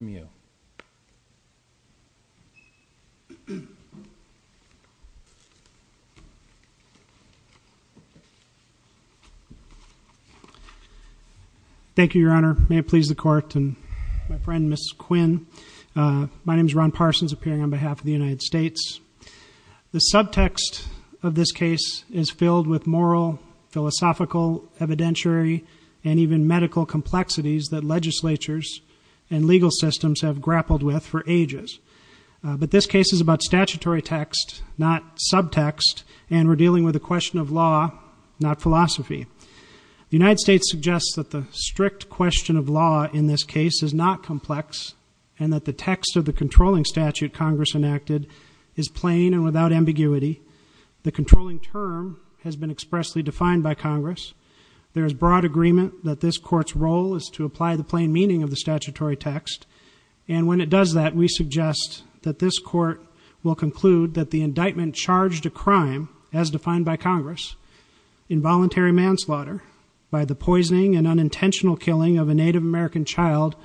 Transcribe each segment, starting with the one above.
Thank you, your honor. May it please the court and my friend Mrs. Quinn. My name is Ron Parsons appearing on behalf of the United States. The subtext of this case is filled with moral, but this case is about statutory text, not subtext. And we're dealing with a question of law, not philosophy. The United States suggests that the strict question of law in this case is not complex and that the text of the controlling statute Congress enacted is plain and without ambiguity. The controlling term has been expressly defined by Congress. There is broad agreement that this court's role is to apply the plain meaning of the statutory text. And when it does that, we suggest that this court will conclude that the indictment charged a crime, as defined by Congress, involuntary manslaughter by the poisoning and unintentional killing of a Native American child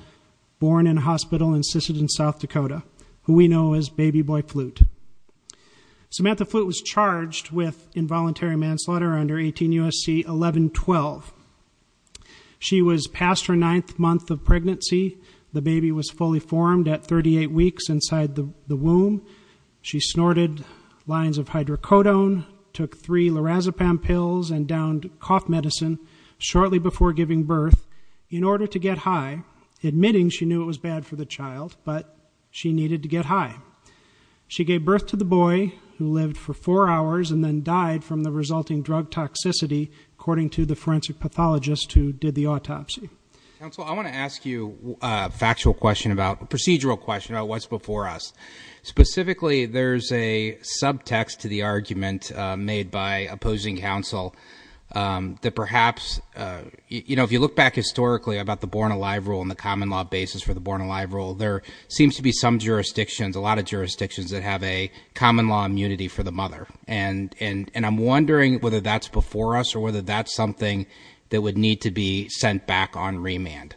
born in a hospital in Sisseton, South Dakota, who we know as Baby Boy Flute. Samantha Flute was charged with involuntary manslaughter under 18 U.S.C. 1112. She was past her ninth month of pregnancy. The baby was fully formed at 38 weeks inside the womb. She snorted lines of hydrocodone, took three lorazepam pills, and downed cough medicine shortly before giving birth in order to get high, admitting she knew it was bad for the child, but she needed to get high. She gave birth to the boy, who lived for four hours, and then died from the resulting drug toxicity, according to the forensic pathologist who did the autopsy. Counsel, I want to ask you a factual question about, a procedural question about what's before us. Specifically, there's a subtext to the argument made by opposing counsel that perhaps, you know, if you look back historically about the Born Alive Rule and the common law basis for the Born Alive Rule, there seems to be some jurisdictions, a lot of jurisdictions that have a common law immunity for the mother. And I'm wondering whether that's before us or whether that's something that would need to be sent back on remand.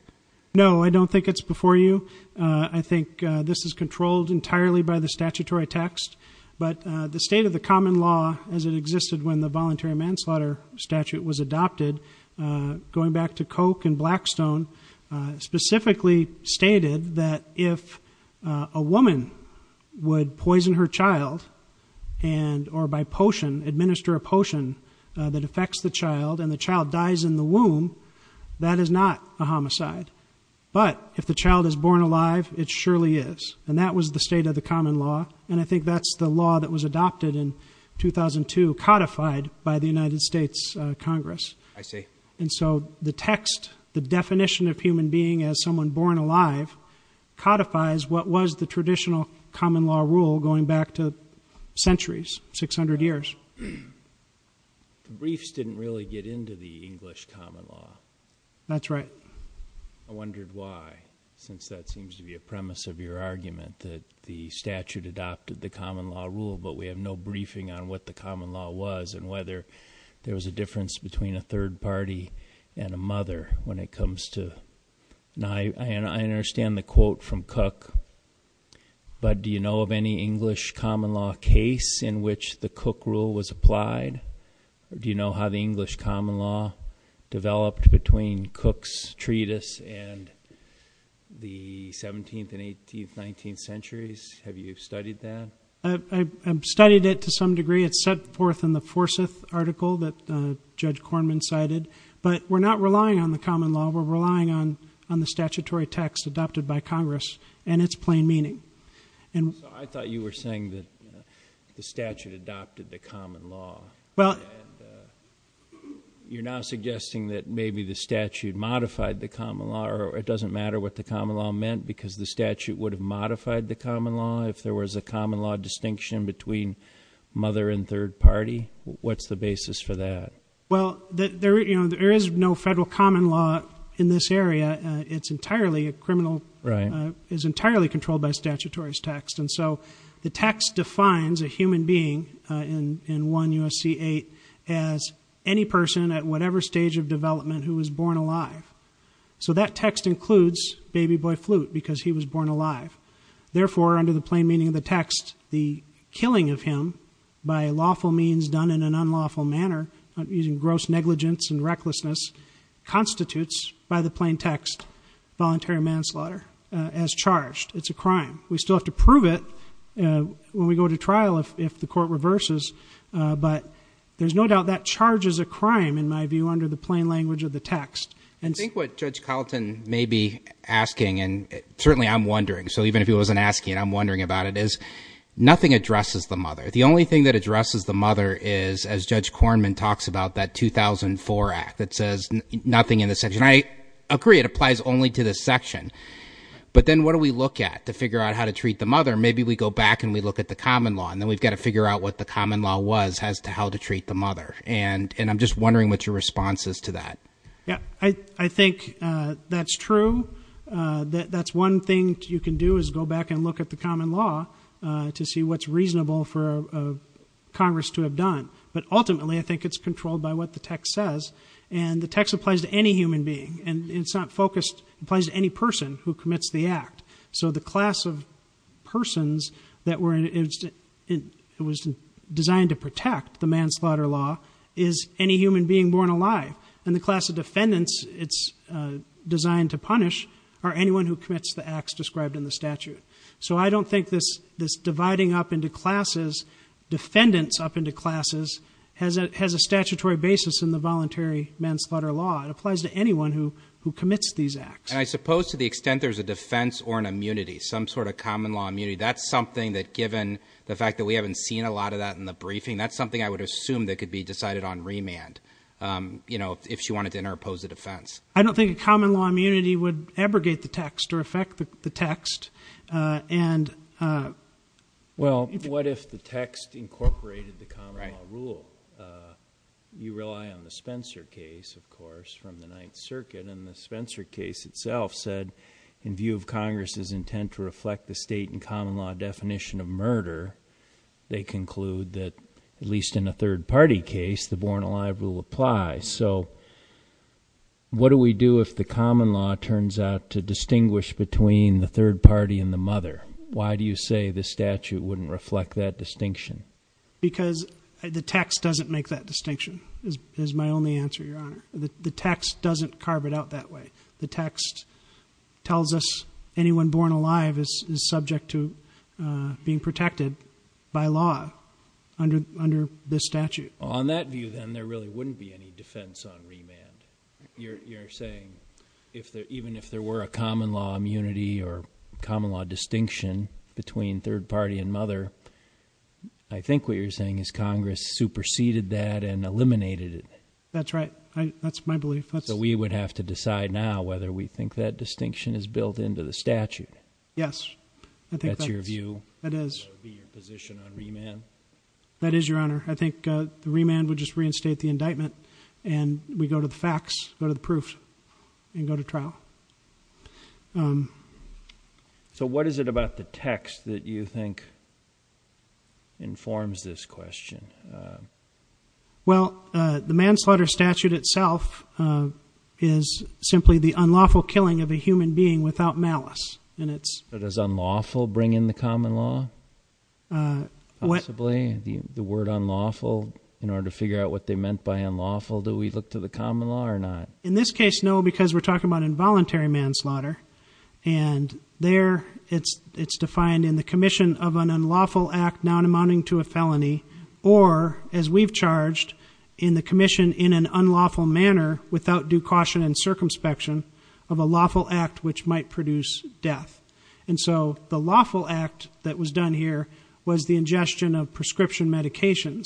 No, I don't think it's before you. I think this is controlled entirely by the statutory text. But the state of the common law, as it existed when the voluntary manslaughter statute was adopted, going back to Koch and Blackstone, specifically stated that if a woman would poison her child and, or by potion, administer a potion that affects the child and the child dies in the womb, that is not a homicide. But if the child is born alive, it surely is. And that was the state of the common law. And I think that's the law that was adopted in 2002, codified by the United States Congress. I see. And so the text, the definition of human being as someone born alive, codifies what was the traditional common law rule going back to centuries, 600 years. The briefs didn't really get into the English common law. That's right. I wondered why, since that seems to be a premise of your argument, that the statute adopted the common law rule, but we have no briefing on what the common law was and whether there was a difference between a third party and a mother when it comes to. I understand the quote from Cook, but do you know of any English common law case in which the Cook rule was applied? Do you know how the English common law developed between Cook's treatise and the 17th and 18th, 19th centuries? Have you studied that? I've studied it to some degree. It's set forth in the Forsyth article that Judge Kornman cited. But we're not relying on the common law. We're relying on the statutory text adopted by Congress and its plain meaning. I thought you were saying that the statute adopted the common law. You're now suggesting that maybe the statute modified the common law, or it doesn't matter what the common law meant because the statute would have modified the common law if there was a common law distinction between mother and third party. What's the basis for that? Well, there is no federal common law in this area. It's entirely a criminal, is entirely controlled by statutory text. And so the text defines a human being in 1 U.S.C. 8 as any person at whatever stage of development who was born alive. So that text includes baby boy Flute because he was born alive. Therefore, under the plain meaning of the text, the killing of him by lawful means done in an unlawful manner using gross negligence and recklessness constitutes by the plain text voluntary manslaughter as charged. It's a crime. We still have to prove it when we go to trial if the court reverses. But there's no doubt that charges a crime in my view under the plain language of the text. And I think what Judge Carlton may be asking, and certainly I'm wondering. So even if he wasn't asking, I'm wondering about it is nothing addresses the mother. The only thing that addresses the mother is, as Judge Korman talks about, that 2004 act that says nothing in the section. I agree. It applies only to this section. But then what do we look at to figure out how to treat the mother? Maybe we go back and we look at the common law and then we've got to figure out what the common law was as to how to treat the mother. And I'm just wondering what your response is to that. Yeah, I think that's true. That's one thing you can do is go back and look at the common law to see what's reasonable for Congress to have done. But ultimately, I think it's controlled by what the text says. And the text applies to any human being. And it's not focused. It applies to any person who commits the act. So the class of persons that was designed to protect the manslaughter law is any human being born alive. And the class of defendants it's designed to punish are anyone who commits the acts described in the statute. So I don't think this dividing up into classes, defendants up into classes, has a statutory basis in the voluntary manslaughter law. It applies to anyone who commits these acts. And I suppose to the extent there's a defense or an immunity, some sort of common law immunity, that's something that given the fact that we haven't seen a lot of that in the briefing, that's something I would assume that could be decided on remand if she wanted to interpose a defense. I don't think a common law immunity would abrogate the text or affect the text. Well, what if the text incorporated the common law rule? You rely on the Spencer case, of course, from the Ninth Circuit. And the Spencer case itself said, in view of Congress's intent to reflect the state and common law definition of murder, they conclude that, at least in a third party case, the born alive rule applies. So what do we do if the common law turns out to distinguish between the third party and the mother? Why do you say the statute wouldn't reflect that distinction? Because the text doesn't make that distinction, is my only answer, Your Honor. The text doesn't carve it out that way. The text tells us anyone born alive is subject to being protected by law under this statute. On that view, then, there really wouldn't be any defense on remand. You're saying even if there were a common law immunity or common law distinction between third party and mother, I think what you're saying is Congress superseded that and eliminated it. That's right. That's my belief. So we would have to decide now whether we think that distinction is built into the statute. Yes. That's your view? That is. That would be your position on remand? That is, Your Honor. I think the remand would just reinstate the indictment, and we go to the facts, go to the proof, and go to trial. So what is it about the text that you think informs this question? Well, the manslaughter statute itself is simply the unlawful killing of a human being without malice. Does unlawful bring in the common law, possibly, the word unlawful? In order to figure out what they meant by unlawful, do we look to the common law or not? In this case, no, because we're talking about involuntary manslaughter, and there it's defined in the commission of an unlawful act not amounting to a felony, or as we've charged in the commission in an unlawful manner without due caution and circumspection, of a lawful act which might produce death. And so the lawful act that was done here was the ingestion of prescription medications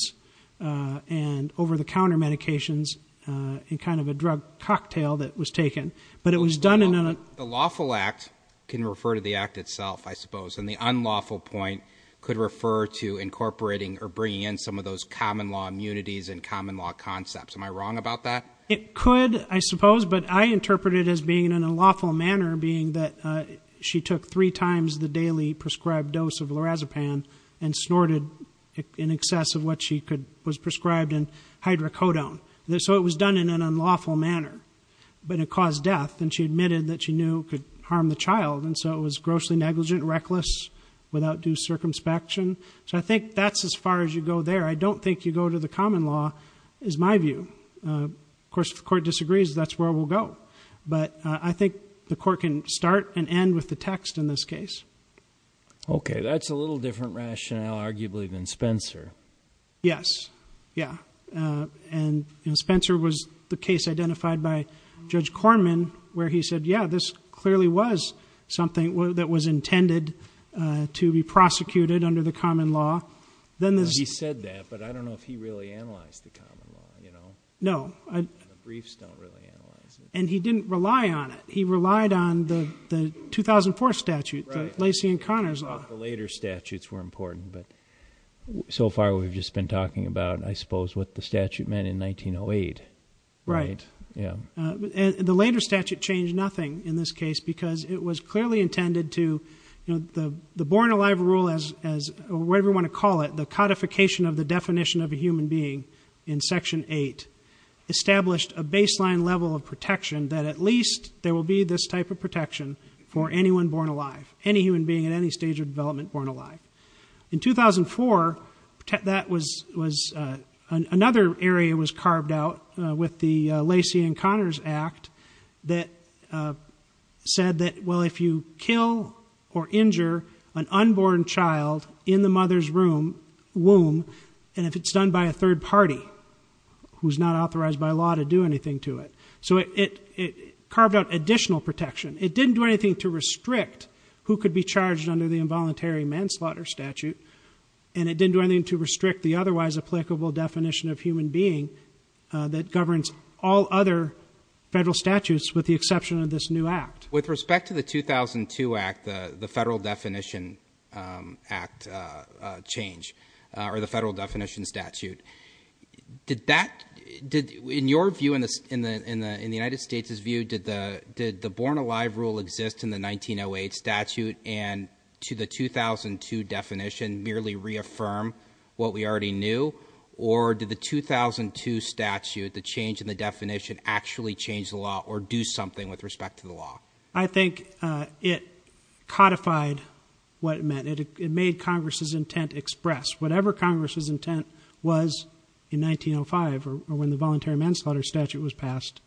and over-the-counter medications in kind of a drug cocktail that was taken. But it was done in an unlawful act. The lawful act can refer to the act itself, I suppose, and the unlawful point could refer to incorporating or bringing in some of those common law immunities and common law concepts. Am I wrong about that? It could, I suppose, but I interpret it as being in an unlawful manner, being that she took three times the daily prescribed dose of lorazepam and snorted in excess of what she was prescribed in hydrocodone. So it was done in an unlawful manner, but it caused death, and she admitted that she knew it could harm the child, and so it was grossly negligent, reckless, without due circumspection. So I think that's as far as you go there. I don't think you go to the common law is my view. Of course, if the court disagrees, that's where we'll go. But I think the court can start and end with the text in this case. Okay. That's a little different rationale, arguably, than Spencer. Yes. Yeah. And Spencer was the case identified by Judge Corman where he said, yeah, this clearly was something that was intended to be prosecuted under the common law. He said that, but I don't know if he really analyzed the common law. No. The briefs don't really analyze it. And he didn't rely on it. He relied on the 2004 statute, the Lacey and Connors law. Right. The later statutes were important, but so far we've just been talking about, I suppose, what the statute meant in 1908. Right. Yeah. The later statute changed nothing in this case because it was clearly intended to the born alive rule, whatever you want to call it, the codification of the definition of a human being in Section 8 established a baseline level of protection that at least there will be this type of protection for anyone born alive, any human being at any stage of development born alive. In 2004, another area was carved out with the Lacey and Connors Act that said that, well, if you kill or injure an unborn child in the mother's womb, and if it's done by a third party who's not authorized by law to do anything to it. So it carved out additional protection. It didn't do anything to restrict who could be charged under the involuntary manslaughter statute, and it didn't do anything to restrict the otherwise applicable definition of human being that governs all other federal statutes with the exception of this new act. With respect to the 2002 act, the Federal Definition Act change, or the Federal Definition Statute, did that, in your view, in the United States' view, did the born alive rule exist in the 1908 statute and to the 2002 definition merely reaffirm what we already knew, or did the 2002 statute, the change in the definition, actually change the law or do something with respect to the law? I think it codified what it meant. It made Congress' intent expressed. Whatever Congress' intent was in 1905, or when the voluntary manslaughter statute was passed,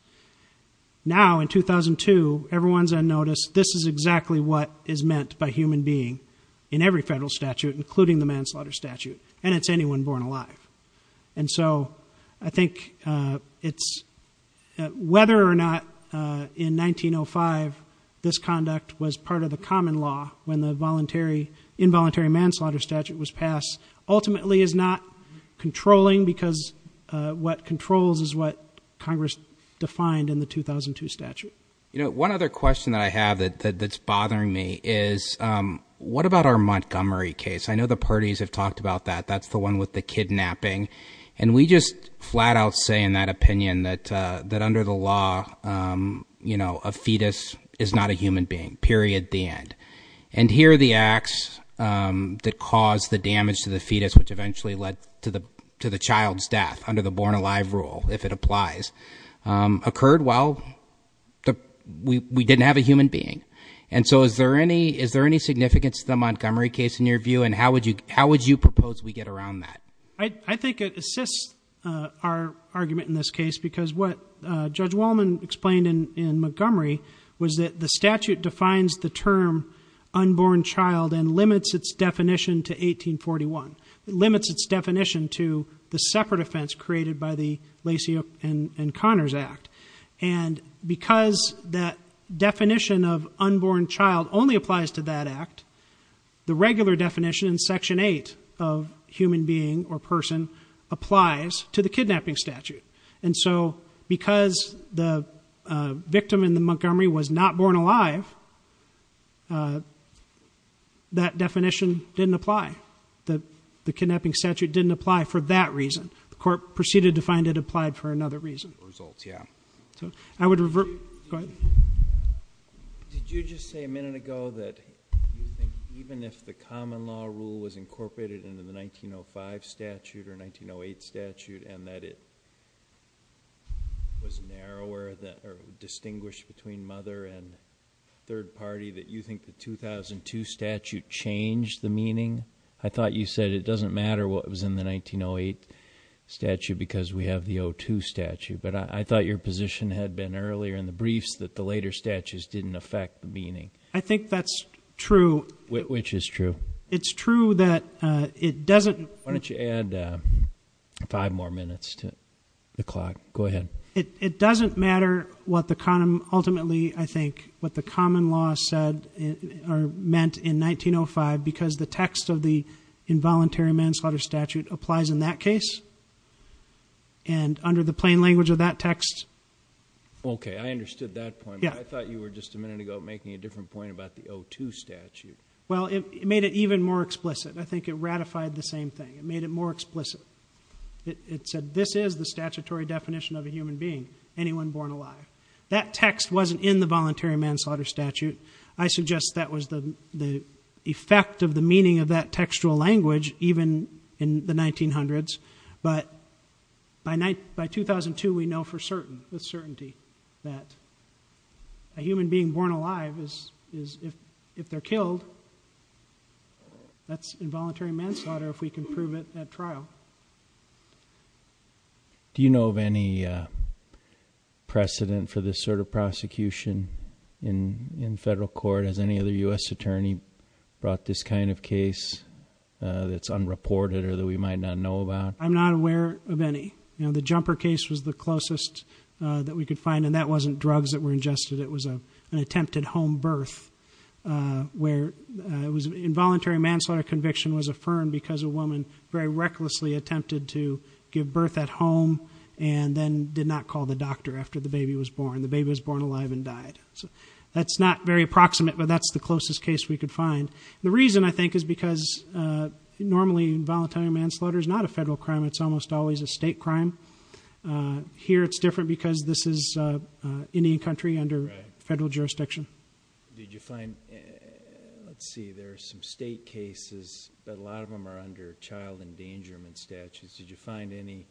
now in 2002 everyone's on notice this is exactly what is meant by human being in every federal statute, including the manslaughter statute, and it's anyone born alive. And so I think it's whether or not in 1905 this conduct was part of the common law when the involuntary manslaughter statute was passed ultimately is not controlling because what controls is what Congress defined in the 2002 statute. One other question that I have that's bothering me is what about our Montgomery case? I know the parties have talked about that. That's the one with the kidnapping. And we just flat out say in that opinion that under the law a fetus is not a human being, period, the end. And here are the acts that caused the damage to the fetus, which eventually led to the child's death under the born alive rule, if it applies, occurred while we didn't have a human being. And so is there any significance to the Montgomery case in your view and how would you propose we get around that? I think it assists our argument in this case because what Judge Wallman explained in Montgomery was that the statute defines the term unborn child and limits its definition to 1841. It limits its definition to the separate offense created by the Lacey and Connors Act. And because that definition of unborn child only applies to that act, the regular definition in Section 8 of human being or person applies to the kidnapping statute. And so because the victim in the Montgomery was not born alive, that definition didn't apply. The kidnapping statute didn't apply for that reason. The court proceeded to find it applied for another reason. Results, yeah. So I would revert. Go ahead. Did you just say a minute ago that you think even if the common law rule was incorporated into the 1905 statute or 1908 statute and that it was narrower or distinguished between mother and third party, that you think the 2002 statute changed the meaning? I thought you said it doesn't matter what was in the 1908 statute because we have the 02 statute. But I thought your position had been earlier in the briefs that the later statutes didn't affect the meaning. I think that's true. Which is true? It's true that it doesn't. Why don't you add five more minutes to the clock? Go ahead. It doesn't matter what the ultimately, I think, what the common law said or meant in 1905 because the text of the involuntary manslaughter statute applies in that case. And under the plain language of that text. Okay. I understood that point. I thought you were just a minute ago making a different point about the 02 statute. Well, it made it even more explicit. I think it ratified the same thing. It made it more explicit. It said this is the statutory definition of a human being, anyone born alive. That text wasn't in the voluntary manslaughter statute. I suggest that was the effect of the meaning of that textual language even in the 1900s. But by 2002, we know for certain, with certainty, that a human being born alive is, if they're killed, that's involuntary manslaughter if we can prove it at trial. Do you know of any precedent for this sort of prosecution in federal court? Has any other U.S. attorney brought this kind of case that's unreported or that we might not know about? I'm not aware of any. The Jumper case was the closest that we could find, and that wasn't drugs that were ingested. It was an attempted home birth where involuntary manslaughter conviction was affirmed because a woman very recklessly attempted to give birth at home and then did not call the doctor after the baby was born. The baby was born alive and died. That's not very approximate, but that's the closest case we could find. The reason, I think, is because normally involuntary manslaughter is not a federal crime. It's almost always a state crime. Here it's different because this is Indian country under federal jurisdiction. Did you find, let's see, there are some state cases, but a lot of them are under child endangerment statutes. Did you find any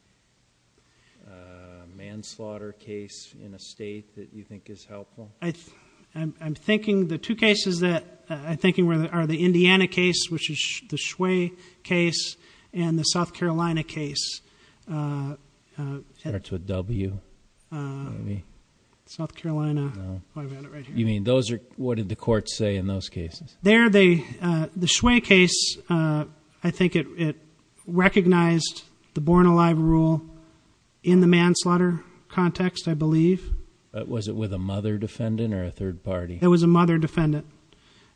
manslaughter case in a state that you think is helpful? I'm thinking the two cases that I'm thinking of are the Indiana case, which is the Shway case, and the South Carolina case. Starts with a W. South Carolina. What did the courts say in those cases? The Shway case, I think it recognized the born alive rule in the manslaughter context, I believe. Was it with a mother defendant or a third party? It was a mother defendant.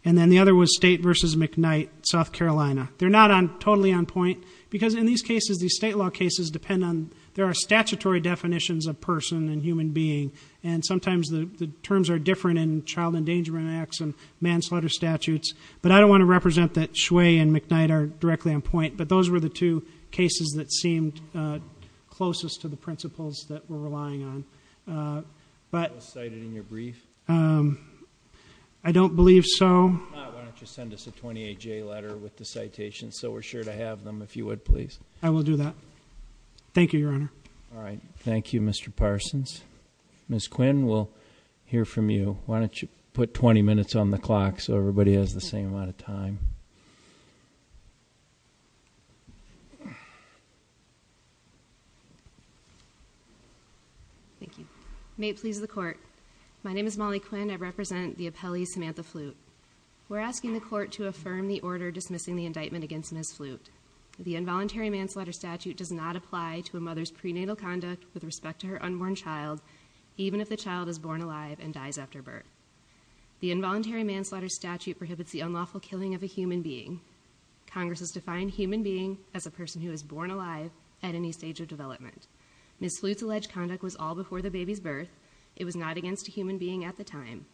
Then the other was State v. McKnight, South Carolina. They're not totally on point because in these cases, these state law cases depend on, there are statutory definitions of person and human being, and sometimes the terms are different in child endangerment acts and manslaughter statutes. But I don't want to represent that Shway and McKnight are directly on point. But those were the two cases that seemed closest to the principles that we're relying on. Was cited in your brief? I don't believe so. Why don't you send us a 28-J letter with the citations so we're sure to have them if you would, please. I will do that. Thank you, Your Honor. All right. Thank you, Mr. Parsons. Ms. Quinn, we'll hear from you. Why don't you put 20 minutes on the clock so everybody has the same amount of time. Thank you. May it please the Court. My name is Molly Quinn. I represent the appellee, Samantha Flute. We're asking the Court to affirm the order dismissing the indictment against Ms. Flute. The involuntary manslaughter statute does not apply to a mother's prenatal conduct with respect to her unborn child, even if the child is born alive and dies after birth. The involuntary manslaughter statute prohibits the unlawful killing of a human being. Congress has defined human being as a person who is born alive at any stage of development. Ms. Flute's alleged conduct was all before the baby's birth. It was not against a human being at the time.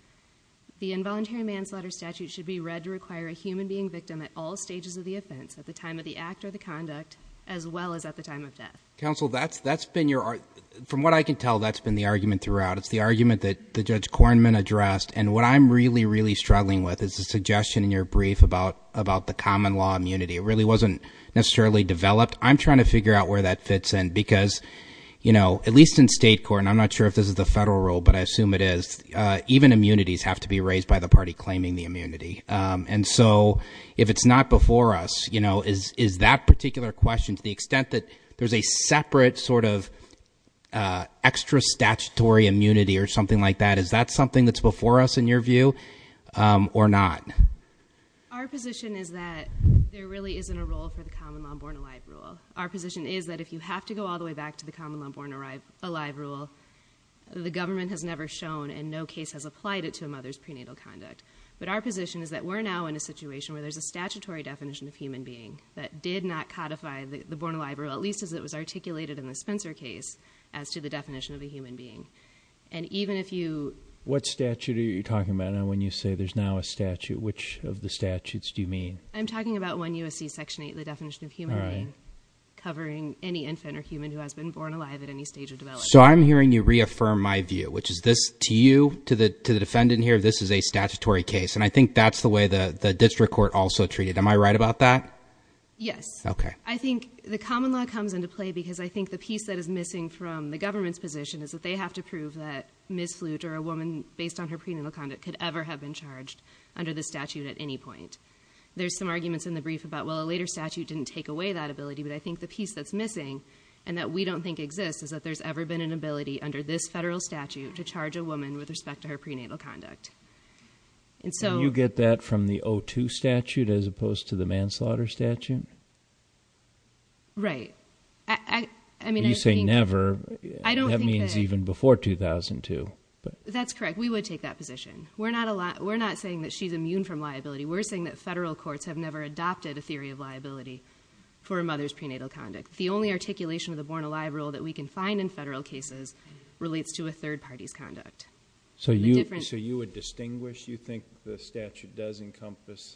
The involuntary manslaughter statute should be read to require a human being victim at all stages of the offense, at the time of the act or the conduct, as well as at the time of death. Counsel, that's been your argument. From what I can tell, that's been the argument throughout. It's the argument that Judge Kornman addressed. And what I'm really, really struggling with is the suggestion in your brief about the common law immunity. It really wasn't necessarily developed. I'm trying to figure out where that fits in because, you know, at least in state court, and I'm not sure if this is the federal rule, but I assume it is, even immunities have to be raised by the party claiming the immunity. And so if it's not before us, you know, is that particular question, to the extent that there's a separate sort of extra statutory immunity or something like that, is that something that's before us in your view or not? Our position is that there really isn't a role for the common law born alive rule. Our position is that if you have to go all the way back to the common law born alive rule, the government has never shown and no case has applied it to a mother's prenatal conduct. But our position is that we're now in a situation where there's a statutory definition of human being that did not codify the born alive rule, at least as it was articulated in the Spencer case, as to the definition of a human being. And even if you... What statute are you talking about when you say there's now a statute? Which of the statutes do you mean? I'm talking about 1 U.S.C. Section 8, the definition of human being, covering any infant or human who has been born alive at any stage of development. So I'm hearing you reaffirm my view, which is this to you, to the defendant here, this is a statutory case, and I think that's the way the district court also treated it. Am I right about that? Yes. Okay. I think the common law comes into play because I think the piece that is missing from the government's position is that they have to prove that Ms. Flute or a woman based on her prenatal conduct could ever have been charged under this statute at any point. There's some arguments in the brief about, well, a later statute didn't take away that ability, but I think the piece that's missing and that we don't think exists is that there's ever been an ability under this federal statute to charge a woman with respect to her prenatal conduct. Do you get that from the O2 statute as opposed to the manslaughter statute? Right. You say never. That means even before 2002. That's correct. We would take that position. We're not saying that she's immune from liability. We're saying that federal courts have never adopted a theory of liability for a mother's prenatal conduct. The only articulation of the born-alive rule that we can find in federal cases relates to a third party's conduct. So you would distinguish? You think the statute does encompass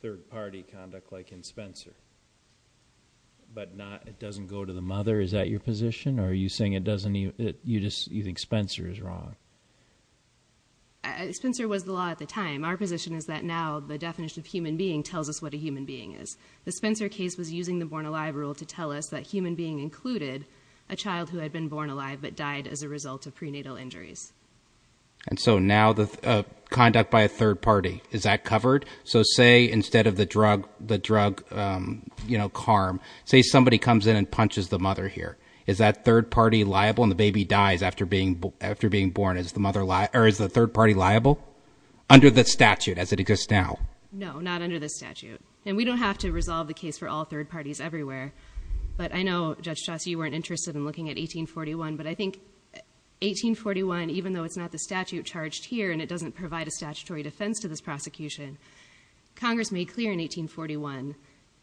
third-party conduct like in Spencer, but it doesn't go to the mother? Is that your position, or are you saying you think Spencer is wrong? Spencer was the law at the time. Our position is that now the definition of human being tells us what a human being is. The Spencer case was using the born-alive rule to tell us that human being included a child who had been born alive but died as a result of prenatal injuries. And so now the conduct by a third party, is that covered? So say instead of the drug, you know, CARM, say somebody comes in and punches the mother here. Is that third-party liable and the baby dies after being born? Is the third party liable under the statute as it exists now? No, not under the statute. And we don't have to resolve the case for all third parties everywhere. But I know, Judge Chaucey, you weren't interested in looking at 1841, but I think 1841, even though it's not the statute charged here and it doesn't provide a statutory defense to this prosecution, Congress made clear in 1841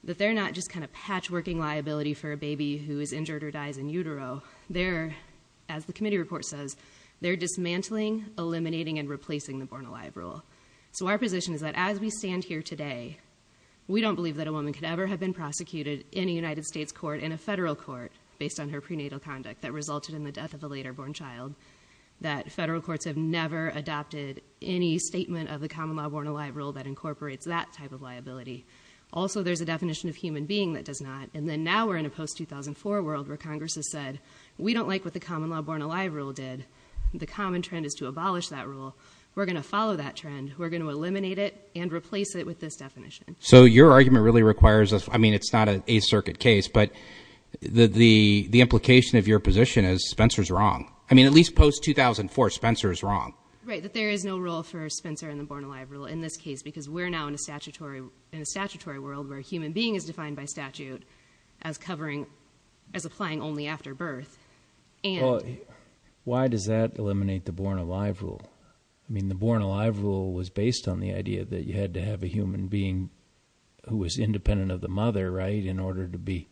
that they're not just kind of patchworking liability for a baby who is injured or dies in utero. They're, as the committee report says, they're dismantling, eliminating, and replacing the born-alive rule. So our position is that as we stand here today, we don't believe that a woman could ever have been prosecuted in a United States court and a federal court based on her prenatal conduct that resulted in the death of a later-born child, that federal courts have never adopted any statement of the common law born-alive rule that incorporates that type of liability. Also, there's a definition of human being that does not. And then now we're in a post-2004 world where Congress has said, we don't like what the common law born-alive rule did. The common trend is to abolish that rule. We're going to follow that trend. We're going to eliminate it and replace it with this definition. So your argument really requires, I mean, it's not a circuit case, but the implication of your position is Spencer's wrong. I mean, at least post-2004, Spencer is wrong. Right, that there is no rule for Spencer in the born-alive rule in this case because we're now in a statutory world where human being is defined by statute as covering, as applying only after birth. Why does that eliminate the born-alive rule? I mean, the born-alive rule was based on the idea that you had to have a human being who was independent of the mother, right, in order to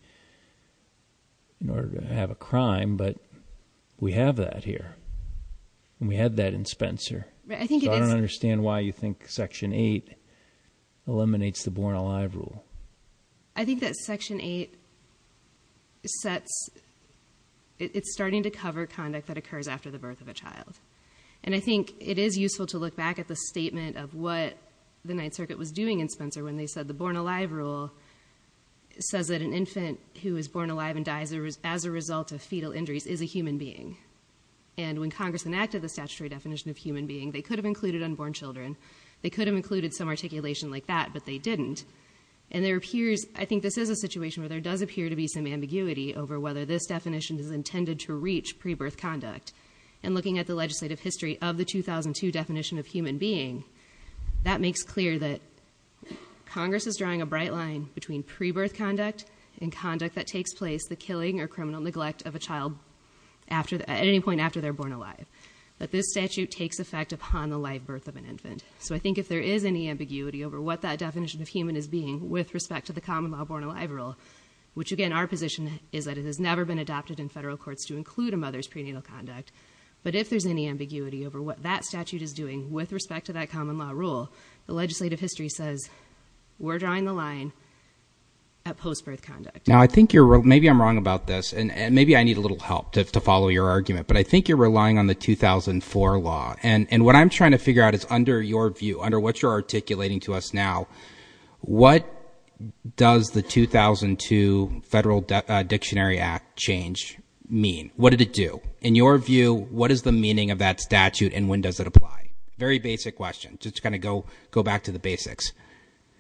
have a crime. But we have that here, and we had that in Spencer. I don't understand why you think Section 8 eliminates the born-alive rule. I think that Section 8 sets, it's starting to cover conduct that occurs after the birth of a child. And I think it is useful to look back at the statement of what the Ninth Circuit was doing in Spencer when they said the born-alive rule says that an infant who is born alive and dies as a result of fetal injuries is a human being. And when Congress enacted the statutory definition of human being, they could have included unborn children. They could have included some articulation like that, but they didn't. And there appears, I think this is a situation where there does appear to be some ambiguity over whether this definition is intended to reach pre-birth conduct. And looking at the legislative history of the 2002 definition of human being, that makes clear that Congress is drawing a bright line between pre-birth conduct and conduct that takes place the killing or criminal neglect of a child at any point after they're born alive. That this statute takes effect upon the live birth of an infant. So I think if there is any ambiguity over what that definition of human is being with respect to the common law born-alive rule, which again our position is that it has never been adopted in federal courts to include a mother's prenatal conduct, but if there's any ambiguity over what that statute is doing with respect to that common law rule, the legislative history says we're drawing the line at post-birth conduct. Now I think you're, maybe I'm wrong about this, and maybe I need a little help to follow your argument, but I think you're relying on the 2004 law. And what I'm trying to figure out is under your view, under what you're articulating to us now, what does the 2002 Federal Dictionary Act change mean? What did it do? In your view, what is the meaning of that statute and when does it apply? Very basic question. Just kind of go back to the basics.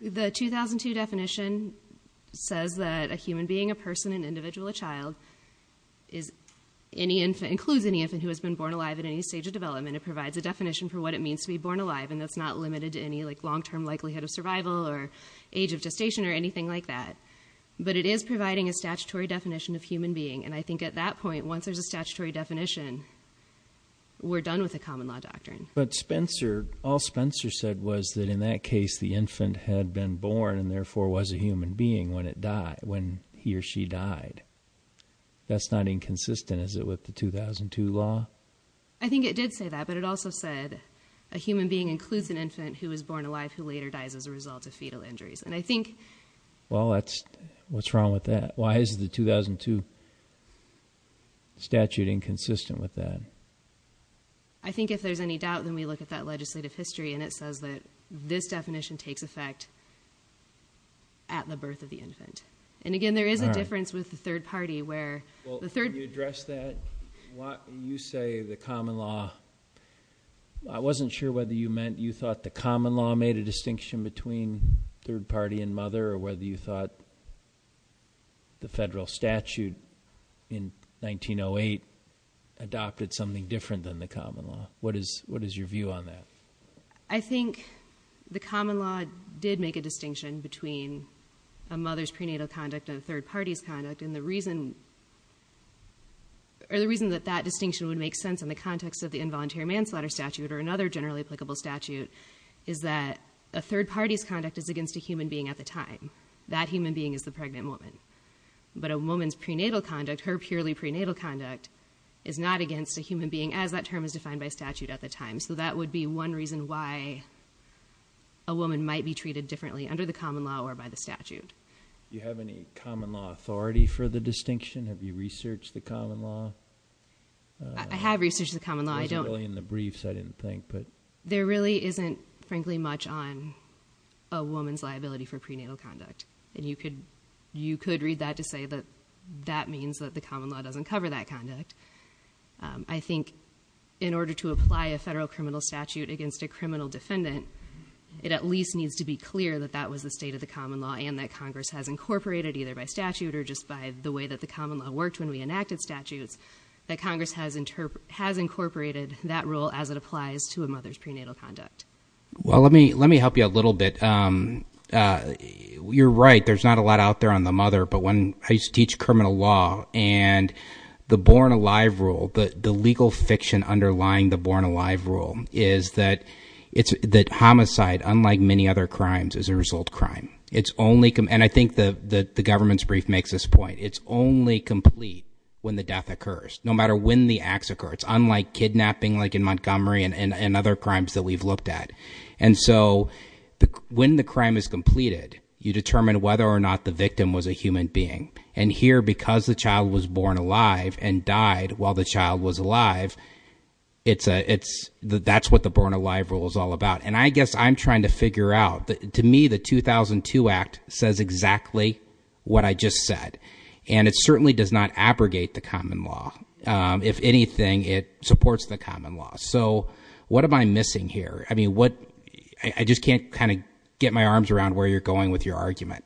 The 2002 definition says that a human being, a person, an individual, a child, includes any infant who has been born alive at any stage of development. It provides a definition for what it means to be born alive, and that's not limited to any long-term likelihood of survival or age of gestation or anything like that. But it is providing a statutory definition of human being, and I think at that point, once there's a statutory definition, we're done with the common law doctrine. But Spencer, all Spencer said was that in that case the infant had been born and therefore was a human being when he or she died. That's not inconsistent, is it, with the 2002 law? I think it did say that, but it also said a human being includes an infant who is born alive who later dies as a result of fetal injuries. And I think— Well, what's wrong with that? Why is the 2002 statute inconsistent with that? I think if there's any doubt, then we look at that legislative history and it says that this definition takes effect at the birth of the infant. And again, there is a difference with the third party where the third— Well, can you address that? You say the common law. I wasn't sure whether you meant you thought the common law made a distinction between third party and mother or whether you thought the federal statute in 1908 adopted something different than the common law. What is your view on that? I think the common law did make a distinction between a mother's prenatal conduct and a third party's conduct. And the reason that that distinction would make sense in the context of the involuntary manslaughter statute or another generally applicable statute is that a third party's conduct is against a human being at the time. That human being is the pregnant woman. But a woman's prenatal conduct, her purely prenatal conduct, is not against a human being as that term is defined by statute at the time. So that would be one reason why a woman might be treated differently under the common law or by the statute. Do you have any common law authority for the distinction? Have you researched the common law? I have researched the common law. It wasn't really in the briefs, I didn't think. There really isn't, frankly, much on a woman's liability for prenatal conduct. And you could read that to say that that means that the common law doesn't cover that conduct. I think in order to apply a federal criminal statute against a criminal defendant, it at least needs to be clear that that was the state of the common law and that Congress has incorporated either by statute or just by the way that the common law worked when we enacted statutes, that Congress has incorporated that rule as it applies to a mother's prenatal conduct. Well, let me help you a little bit. You're right, there's not a lot out there on the mother, but when I used to teach criminal law and the born-alive rule, the legal fiction underlying the born-alive rule, is that homicide, unlike many other crimes, is a result of crime. And I think the government's brief makes this point. It's only complete when the death occurs, no matter when the acts occur. It's unlike kidnapping like in Montgomery and other crimes that we've looked at. And so when the crime is completed, you determine whether or not the victim was a human being. And here, because the child was born alive and died while the child was alive, that's what the born-alive rule is all about. And I guess I'm trying to figure out. To me, the 2002 Act says exactly what I just said. And it certainly does not abrogate the common law. If anything, it supports the common law. So what am I missing here? I mean, I just can't kind of get my arms around where you're going with your argument.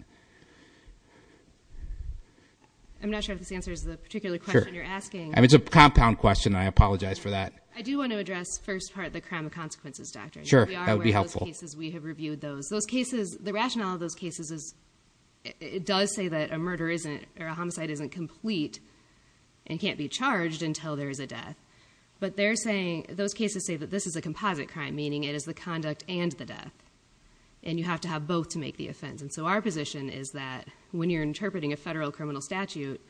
I'm not sure if this answers the particular question you're asking. Sure. I mean, it's a compound question, and I apologize for that. I do want to address, first part, the crime of consequences doctrine. Sure, that would be helpful. We are aware of those cases. We have reviewed those. The rationale of those cases is it does say that a homicide isn't complete and can't be charged until there is a death. But those cases say that this is a composite crime, meaning it is the conduct and the death. And you have to have both to make the offense. And so our position is that when you're interpreting a federal criminal statute,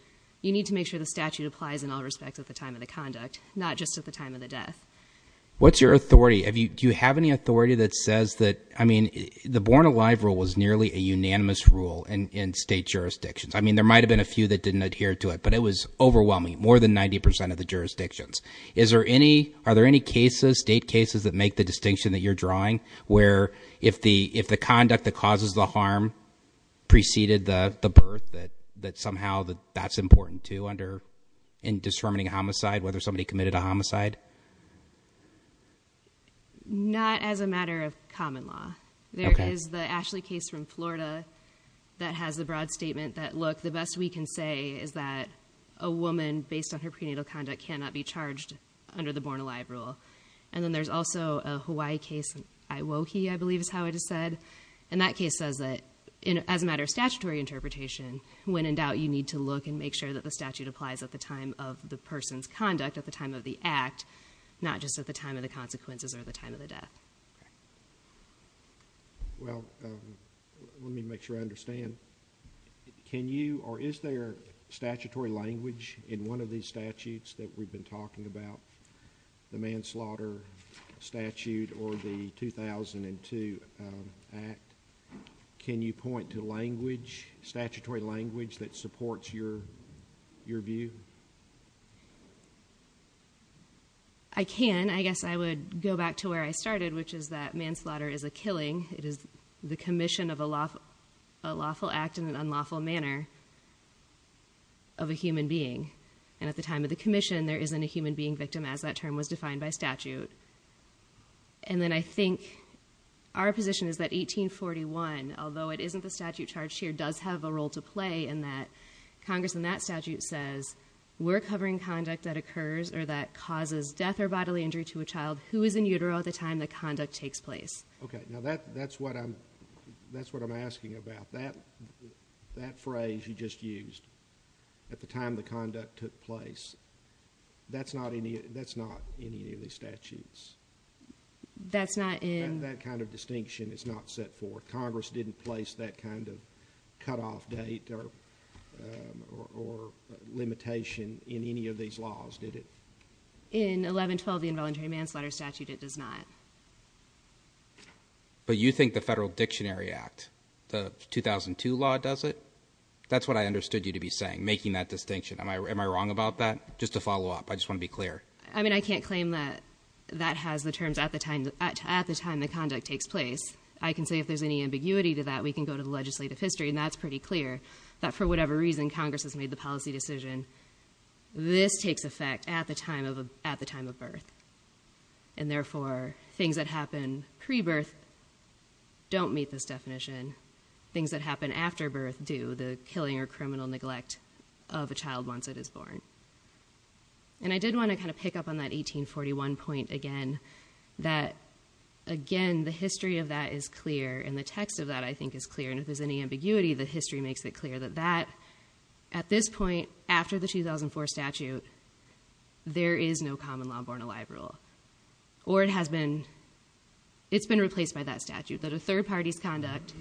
you need to make sure the statute applies in all respects at the time of the conduct, not just at the time of the death. What's your authority? Do you have any authority that says that, I mean, the born-alive rule was nearly a unanimous rule in state jurisdictions? I mean, there might have been a few that didn't adhere to it, but it was overwhelming, more than 90% of the jurisdictions. Are there any cases, state cases, that make the distinction that you're drawing, where if the conduct that causes the harm preceded the birth, that somehow that's important, too, in determining homicide, whether somebody committed a homicide? Not as a matter of common law. There is the Ashley case from Florida that has the broad statement that, look, the best we can say is that a woman, based on her prenatal conduct, cannot be charged under the born-alive rule. And then there's also a Hawaii case, Iwoki, I believe is how it is said, and that case says that, as a matter of statutory interpretation, when in doubt, you need to look and make sure that the statute applies at the time of the person's conduct, at the time of the act, not just at the time of the consequences or the time of the death. Well, let me make sure I understand. Can you, or is there statutory language in one of these statutes that we've been talking about? The manslaughter statute or the 2002 act. Can you point to language, statutory language, that supports your view? I can. I guess I would go back to where I started, which is that manslaughter is a killing. It is the commission of a lawful act in an unlawful manner of a human being. And at the time of the commission, there isn't a human being victim, as that term was defined by statute. And then I think our position is that 1841, although it isn't the statute charged here, does have a role to play in that Congress in that statute says, we're covering conduct that occurs or that causes death or bodily injury to a child who is in utero at the time the conduct takes place. Okay, now that's what I'm asking about. That phrase you just used, at the time the conduct took place, that's not in any of the statutes. That's not in? That kind of distinction is not set forth. Congress didn't place that kind of cutoff date or limitation in any of these laws, did it? In 1112, the involuntary manslaughter statute, it does not. But you think the Federal Dictionary Act, the 2002 law does it? That's what I understood you to be saying, making that distinction. Am I wrong about that? Just to follow up, I just want to be clear. I mean, I can't claim that that has the terms at the time the conduct takes place. I can say if there's any ambiguity to that, we can go to the legislative history, and that's pretty clear, that for whatever reason, Congress has made the policy decision, this takes effect at the time of birth. And therefore, things that happen pre-birth don't meet this definition. Things that happen after birth do. The killing or criminal neglect of a child once it is born. And I did want to kind of pick up on that 1841 point again. That, again, the history of that is clear, and the text of that, I think, is clear. And if there's any ambiguity, the history makes it clear that that, at this point, after the 2004 statute, there is no common law born alive rule. Or it has been replaced by that statute. That a third party's conduct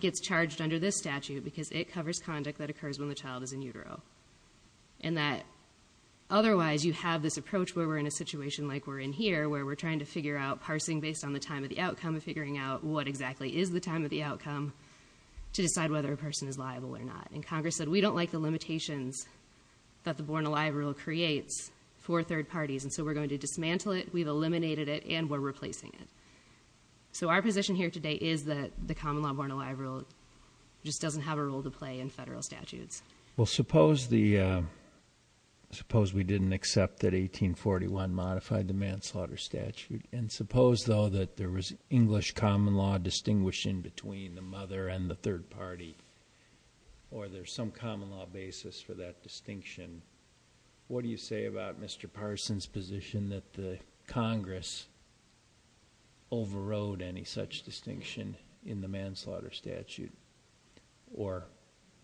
gets charged under this statute because it covers conduct that occurs when the child is in utero. And that, otherwise, you have this approach where we're in a situation like we're in here, where we're trying to figure out parsing based on the time of the outcome and figuring out what exactly is the time of the outcome to decide whether a person is liable or not. And Congress said we don't like the limitations that the born alive rule creates for third parties. And so we're going to dismantle it, we've eliminated it, and we're replacing it. So our position here today is that the common law born alive rule just doesn't have a role to play in federal statutes. Well, suppose we didn't accept that 1841 modified the manslaughter statute. And suppose, though, that there was English common law to distinguish in between the mother and the third party or there's some common law basis for that distinction. What do you say about Mr. Parson's position that the Congress overrode any such distinction in the manslaughter statute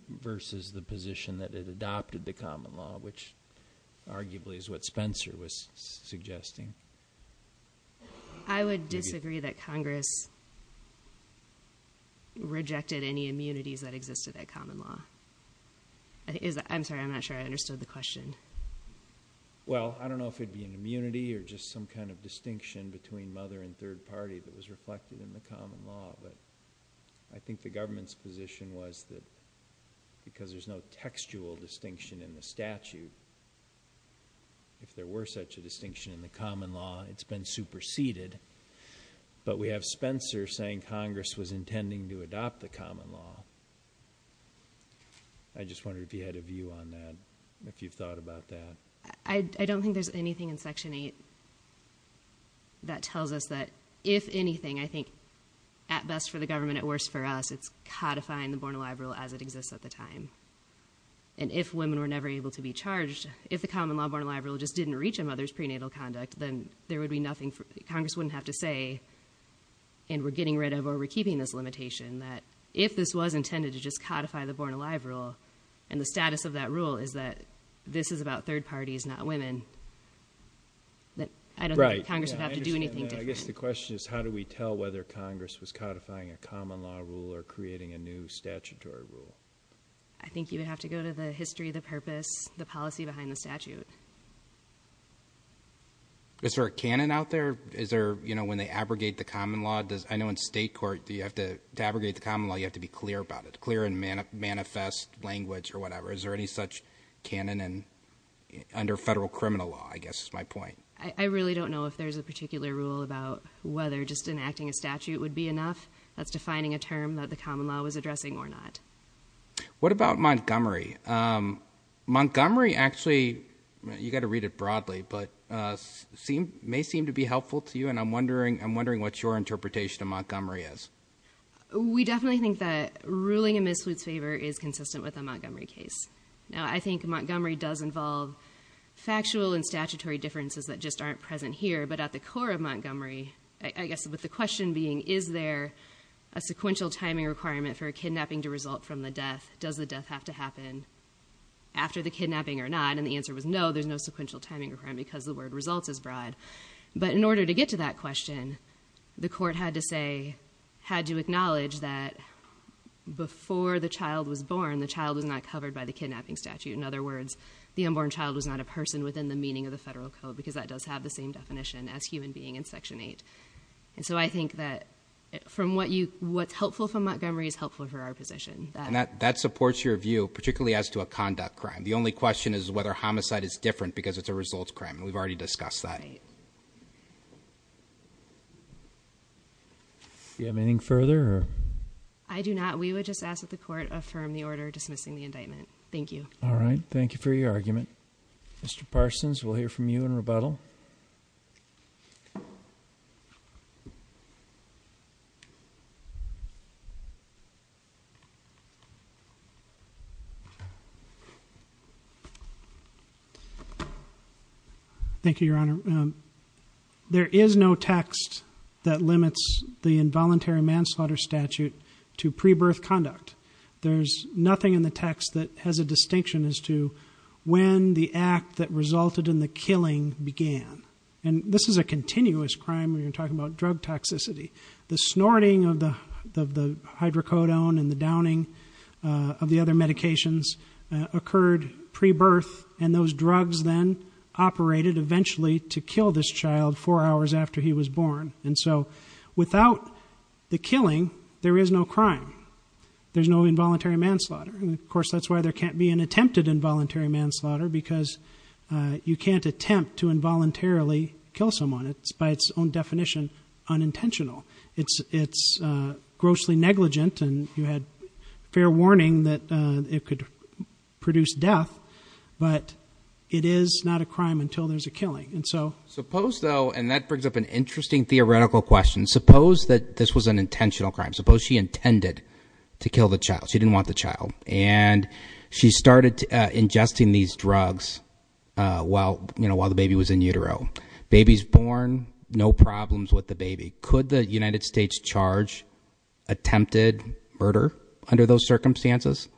versus the position that it adopted the common law, which arguably is what Spencer was suggesting? I would disagree that Congress rejected any immunities that existed at common law. I'm sorry, I'm not sure I understood the question. Well, I don't know if it would be an immunity or just some kind of distinction between mother and third party that was reflected in the common law, but I think the government's position was that because there's no textual distinction in the statute, if there were such a distinction in the common law, it's been superseded. But we have Spencer saying Congress was intending to adopt the common law. I just wondered if you had a view on that, if you've thought about that. I don't think there's anything in Section 8 that tells us that, if anything, I think at best for the government, at worst for us, it's codifying the born alive rule as it exists at the time. And if women were never able to be charged, if the common law born alive rule just didn't reach a mother's prenatal conduct, then Congress wouldn't have to say, and we're getting rid of or we're keeping this limitation, that if this was intended to just codify the born alive rule and the status of that rule is that this is about third parties, not women, I don't think Congress would have to do anything different. I understand that. I guess the question is how do we tell whether Congress was codifying a common law rule or creating a new statutory rule. I think you would have to go to the history, the purpose, the policy behind the statute. Is there a canon out there? Is there when they abrogate the common law, I know in state court, to abrogate the common law you have to be clear about it, clear and manifest language or whatever. Is there any such canon under federal criminal law, I guess is my point. I really don't know if there's a particular rule about whether just enacting a statute would be enough. That's defining a term that the common law was addressing or not. What about Montgomery? Montgomery actually, you've got to read it broadly, but it may seem to be helpful to you, and I'm wondering what your interpretation of Montgomery is. We definitely think that ruling in Ms. Flute's favor is consistent with a Montgomery case. I think Montgomery does involve factual and statutory differences that just aren't present here, but at the core of Montgomery, I guess with the question being is there a sequential timing requirement for a kidnapping to result from the death? Does the death have to happen after the kidnapping or not? And the answer was no, there's no sequential timing requirement because the word results is broad. But in order to get to that question, the court had to say, had to acknowledge that before the child was born, the child was not covered by the kidnapping statute. In other words, the unborn child was not a person within the meaning of the federal code because that does have the same definition as human being in Section 8. And so I think that what's helpful for Montgomery is helpful for our position. And that supports your view, particularly as to a conduct crime. The only question is whether homicide is different because it's a results crime, and we've already discussed that. Do you have anything further? I do not. We would just ask that the court affirm the order dismissing the indictment. Thank you. All right. Thank you for your argument. Mr. Parsons, we'll hear from you in rebuttal. Thank you, Your Honor. There is no text that limits the involuntary manslaughter statute to pre-birth conduct. There's nothing in the text that has a distinction as to when the act that resulted in the killing began. And this is a continuous crime when you're talking about drug toxicity. The snorting of the hydrocodone and the downing of the other medications occurred pre-birth, and those drugs then operated eventually to kill this child four hours after he was born. And so without the killing, there is no crime. There's no involuntary manslaughter. And, of course, that's why there can't be an attempted involuntary manslaughter, because you can't attempt to involuntarily kill someone. It's, by its own definition, unintentional. It's grossly negligent, and you had fair warning that it could produce death, but it is not a crime until there's a killing. Suppose, though, and that brings up an interesting theoretical question, suppose that this was an intentional crime. Suppose she intended to kill the child. She didn't want the child. And she started ingesting these drugs while the baby was in utero. Baby's born, no problems with the baby. Could the United States charge attempted murder under those circumstances?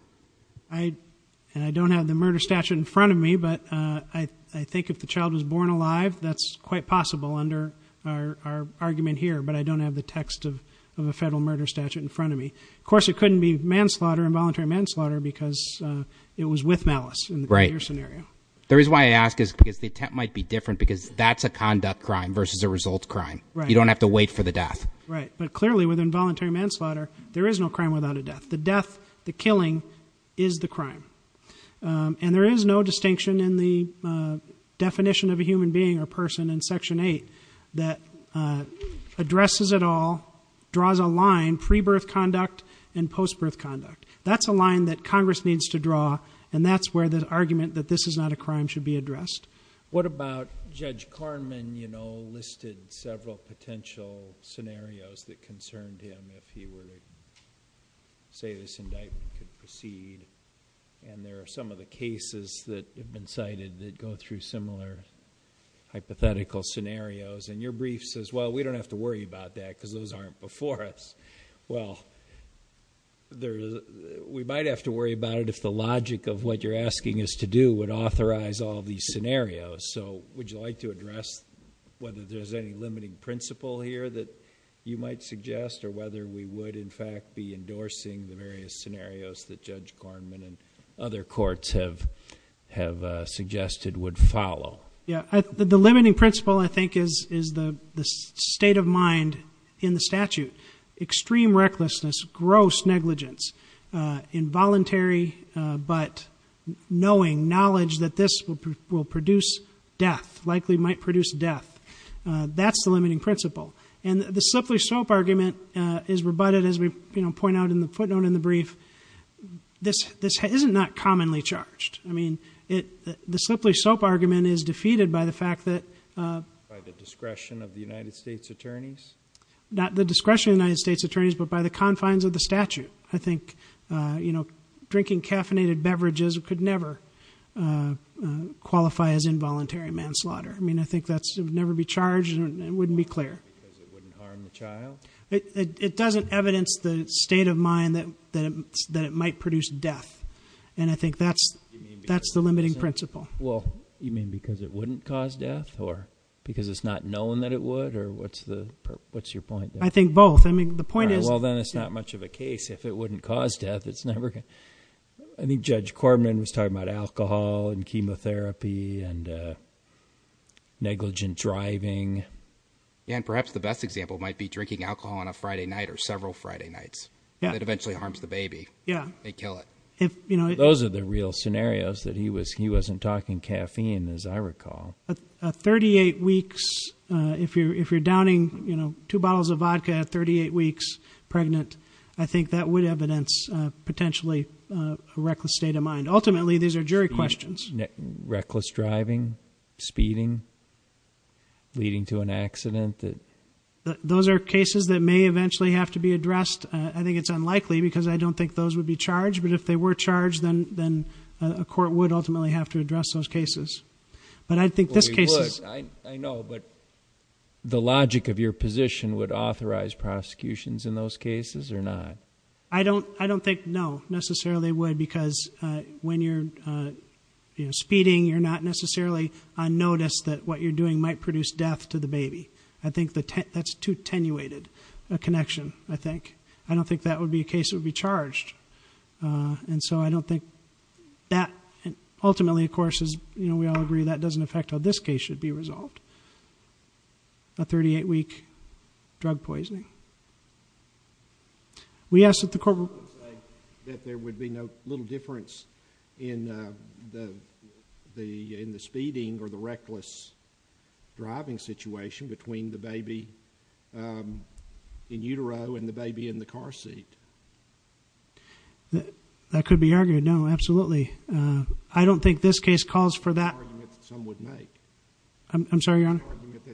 I don't have the murder statute in front of me, but I think if the child was born alive, that's quite possible under our argument here, but I don't have the text of a federal murder statute in front of me. Of course, it couldn't be manslaughter, involuntary manslaughter, because it was with malice in the earlier scenario. Right. The reason why I ask is because the attempt might be different, because that's a conduct crime versus a result crime. Right. You don't have to wait for the death. Right. But clearly with involuntary manslaughter, there is no crime without a death. The death, the killing, is the crime. And there is no distinction in the definition of a human being or person in Section 8 that addresses it all, draws a line, pre-birth conduct and post-birth conduct. That's a line that Congress needs to draw, and that's where the argument that this is not a crime should be addressed. What about Judge Karnman, you know, listed several potential scenarios that concerned him if he were to say this indictment could proceed, and there are some of the cases that have been cited that go through similar hypothetical scenarios, and your brief says, well, we don't have to worry about that because those aren't before us. Well, we might have to worry about it if the logic of what you're asking us to do would authorize all these scenarios. So would you like to address whether there's any limiting principle here that you might suggest or whether we would, in fact, be endorsing the various scenarios that Judge Karnman and other courts have suggested would follow? Yeah. The limiting principle, I think, is the state of mind in the statute. Extreme recklessness, gross negligence, involuntary, but knowing, knowledge that this will produce death, likely might produce death. That's the limiting principle. And the Slippery Soap argument is rebutted, as we point out in the footnote in the brief. This isn't not commonly charged. I mean, the Slippery Soap argument is defeated by the fact that By the discretion of the United States attorneys? Not the discretion of the United States attorneys, but by the confines of the statute. I think drinking caffeinated beverages could never qualify as involuntary manslaughter. I mean, I think that would never be charged, and it wouldn't be clear. Because it wouldn't harm the child? It doesn't evidence the state of mind that it might produce death. And I think that's the limiting principle. You mean because it wouldn't cause death or because it's not known that it would? Or what's your point there? I think both. Well, then it's not much of a case. If it wouldn't cause death, it's never going to. I think Judge Corman was talking about alcohol and chemotherapy and negligent driving. Yeah, and perhaps the best example might be drinking alcohol on a Friday night or several Friday nights. That eventually harms the baby. Yeah. They kill it. Those are the real scenarios, that he wasn't talking caffeine, as I recall. If you're downing two bottles of vodka at 38 weeks pregnant, I think that would evidence potentially a reckless state of mind. Ultimately, these are jury questions. Reckless driving, speeding, leading to an accident? Those are cases that may eventually have to be addressed. I think it's unlikely because I don't think those would be charged. But if they were charged, then a court would ultimately have to address those cases. Well, they would. I know, but the logic of your position, would it authorize prosecutions in those cases or not? I don't think, no, necessarily it would because when you're speeding, you're not necessarily on notice that what you're doing might produce death to the baby. I think that's too attenuated a connection, I think. I don't think that would be a case that would be charged. I don't think that, ultimately, of course, we all agree, that doesn't affect how this case should be resolved, a 38-week drug poisoning. We asked that the court would say that there would be no little difference in the speeding or the reckless driving situation between the baby in utero and the baby in the car seat. That could be argued, no, absolutely. I don't think this case calls for that... It's an argument that some would make. I'm sorry, Your Honor? It's an argument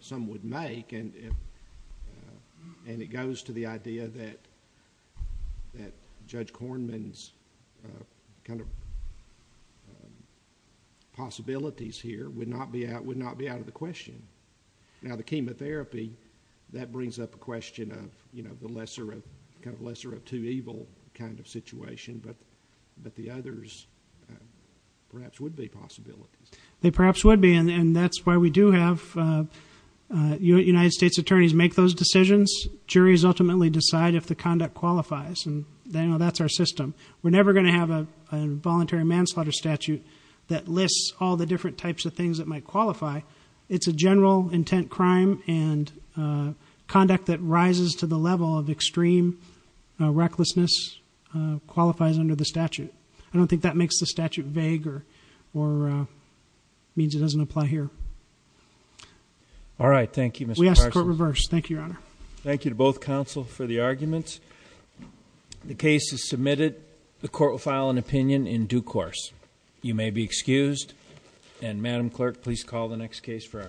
that some would make, and it goes to the idea that Judge Kornman's kind of possibilities here would not be out of the question. Now, the chemotherapy, that brings up a question of the lesser of two evil kind of situation, but the others perhaps would be possibilities. They perhaps would be, and that's why we do have United States attorneys make those decisions. Juries ultimately decide if the conduct qualifies, and that's our system. We're never going to have a voluntary manslaughter statute that lists all the different types of things that might qualify. It's a general intent crime, and conduct that rises to the level of extreme recklessness qualifies under the statute. I don't think that makes the statute vague or means it doesn't apply here. All right, thank you, Mr. Parsons. We ask the court reverse. Thank you, Your Honor. Thank you to both counsel for the arguments. The case is submitted. The court will file an opinion in due course. You may be excused, and Madam Clerk, please call the next case for argument.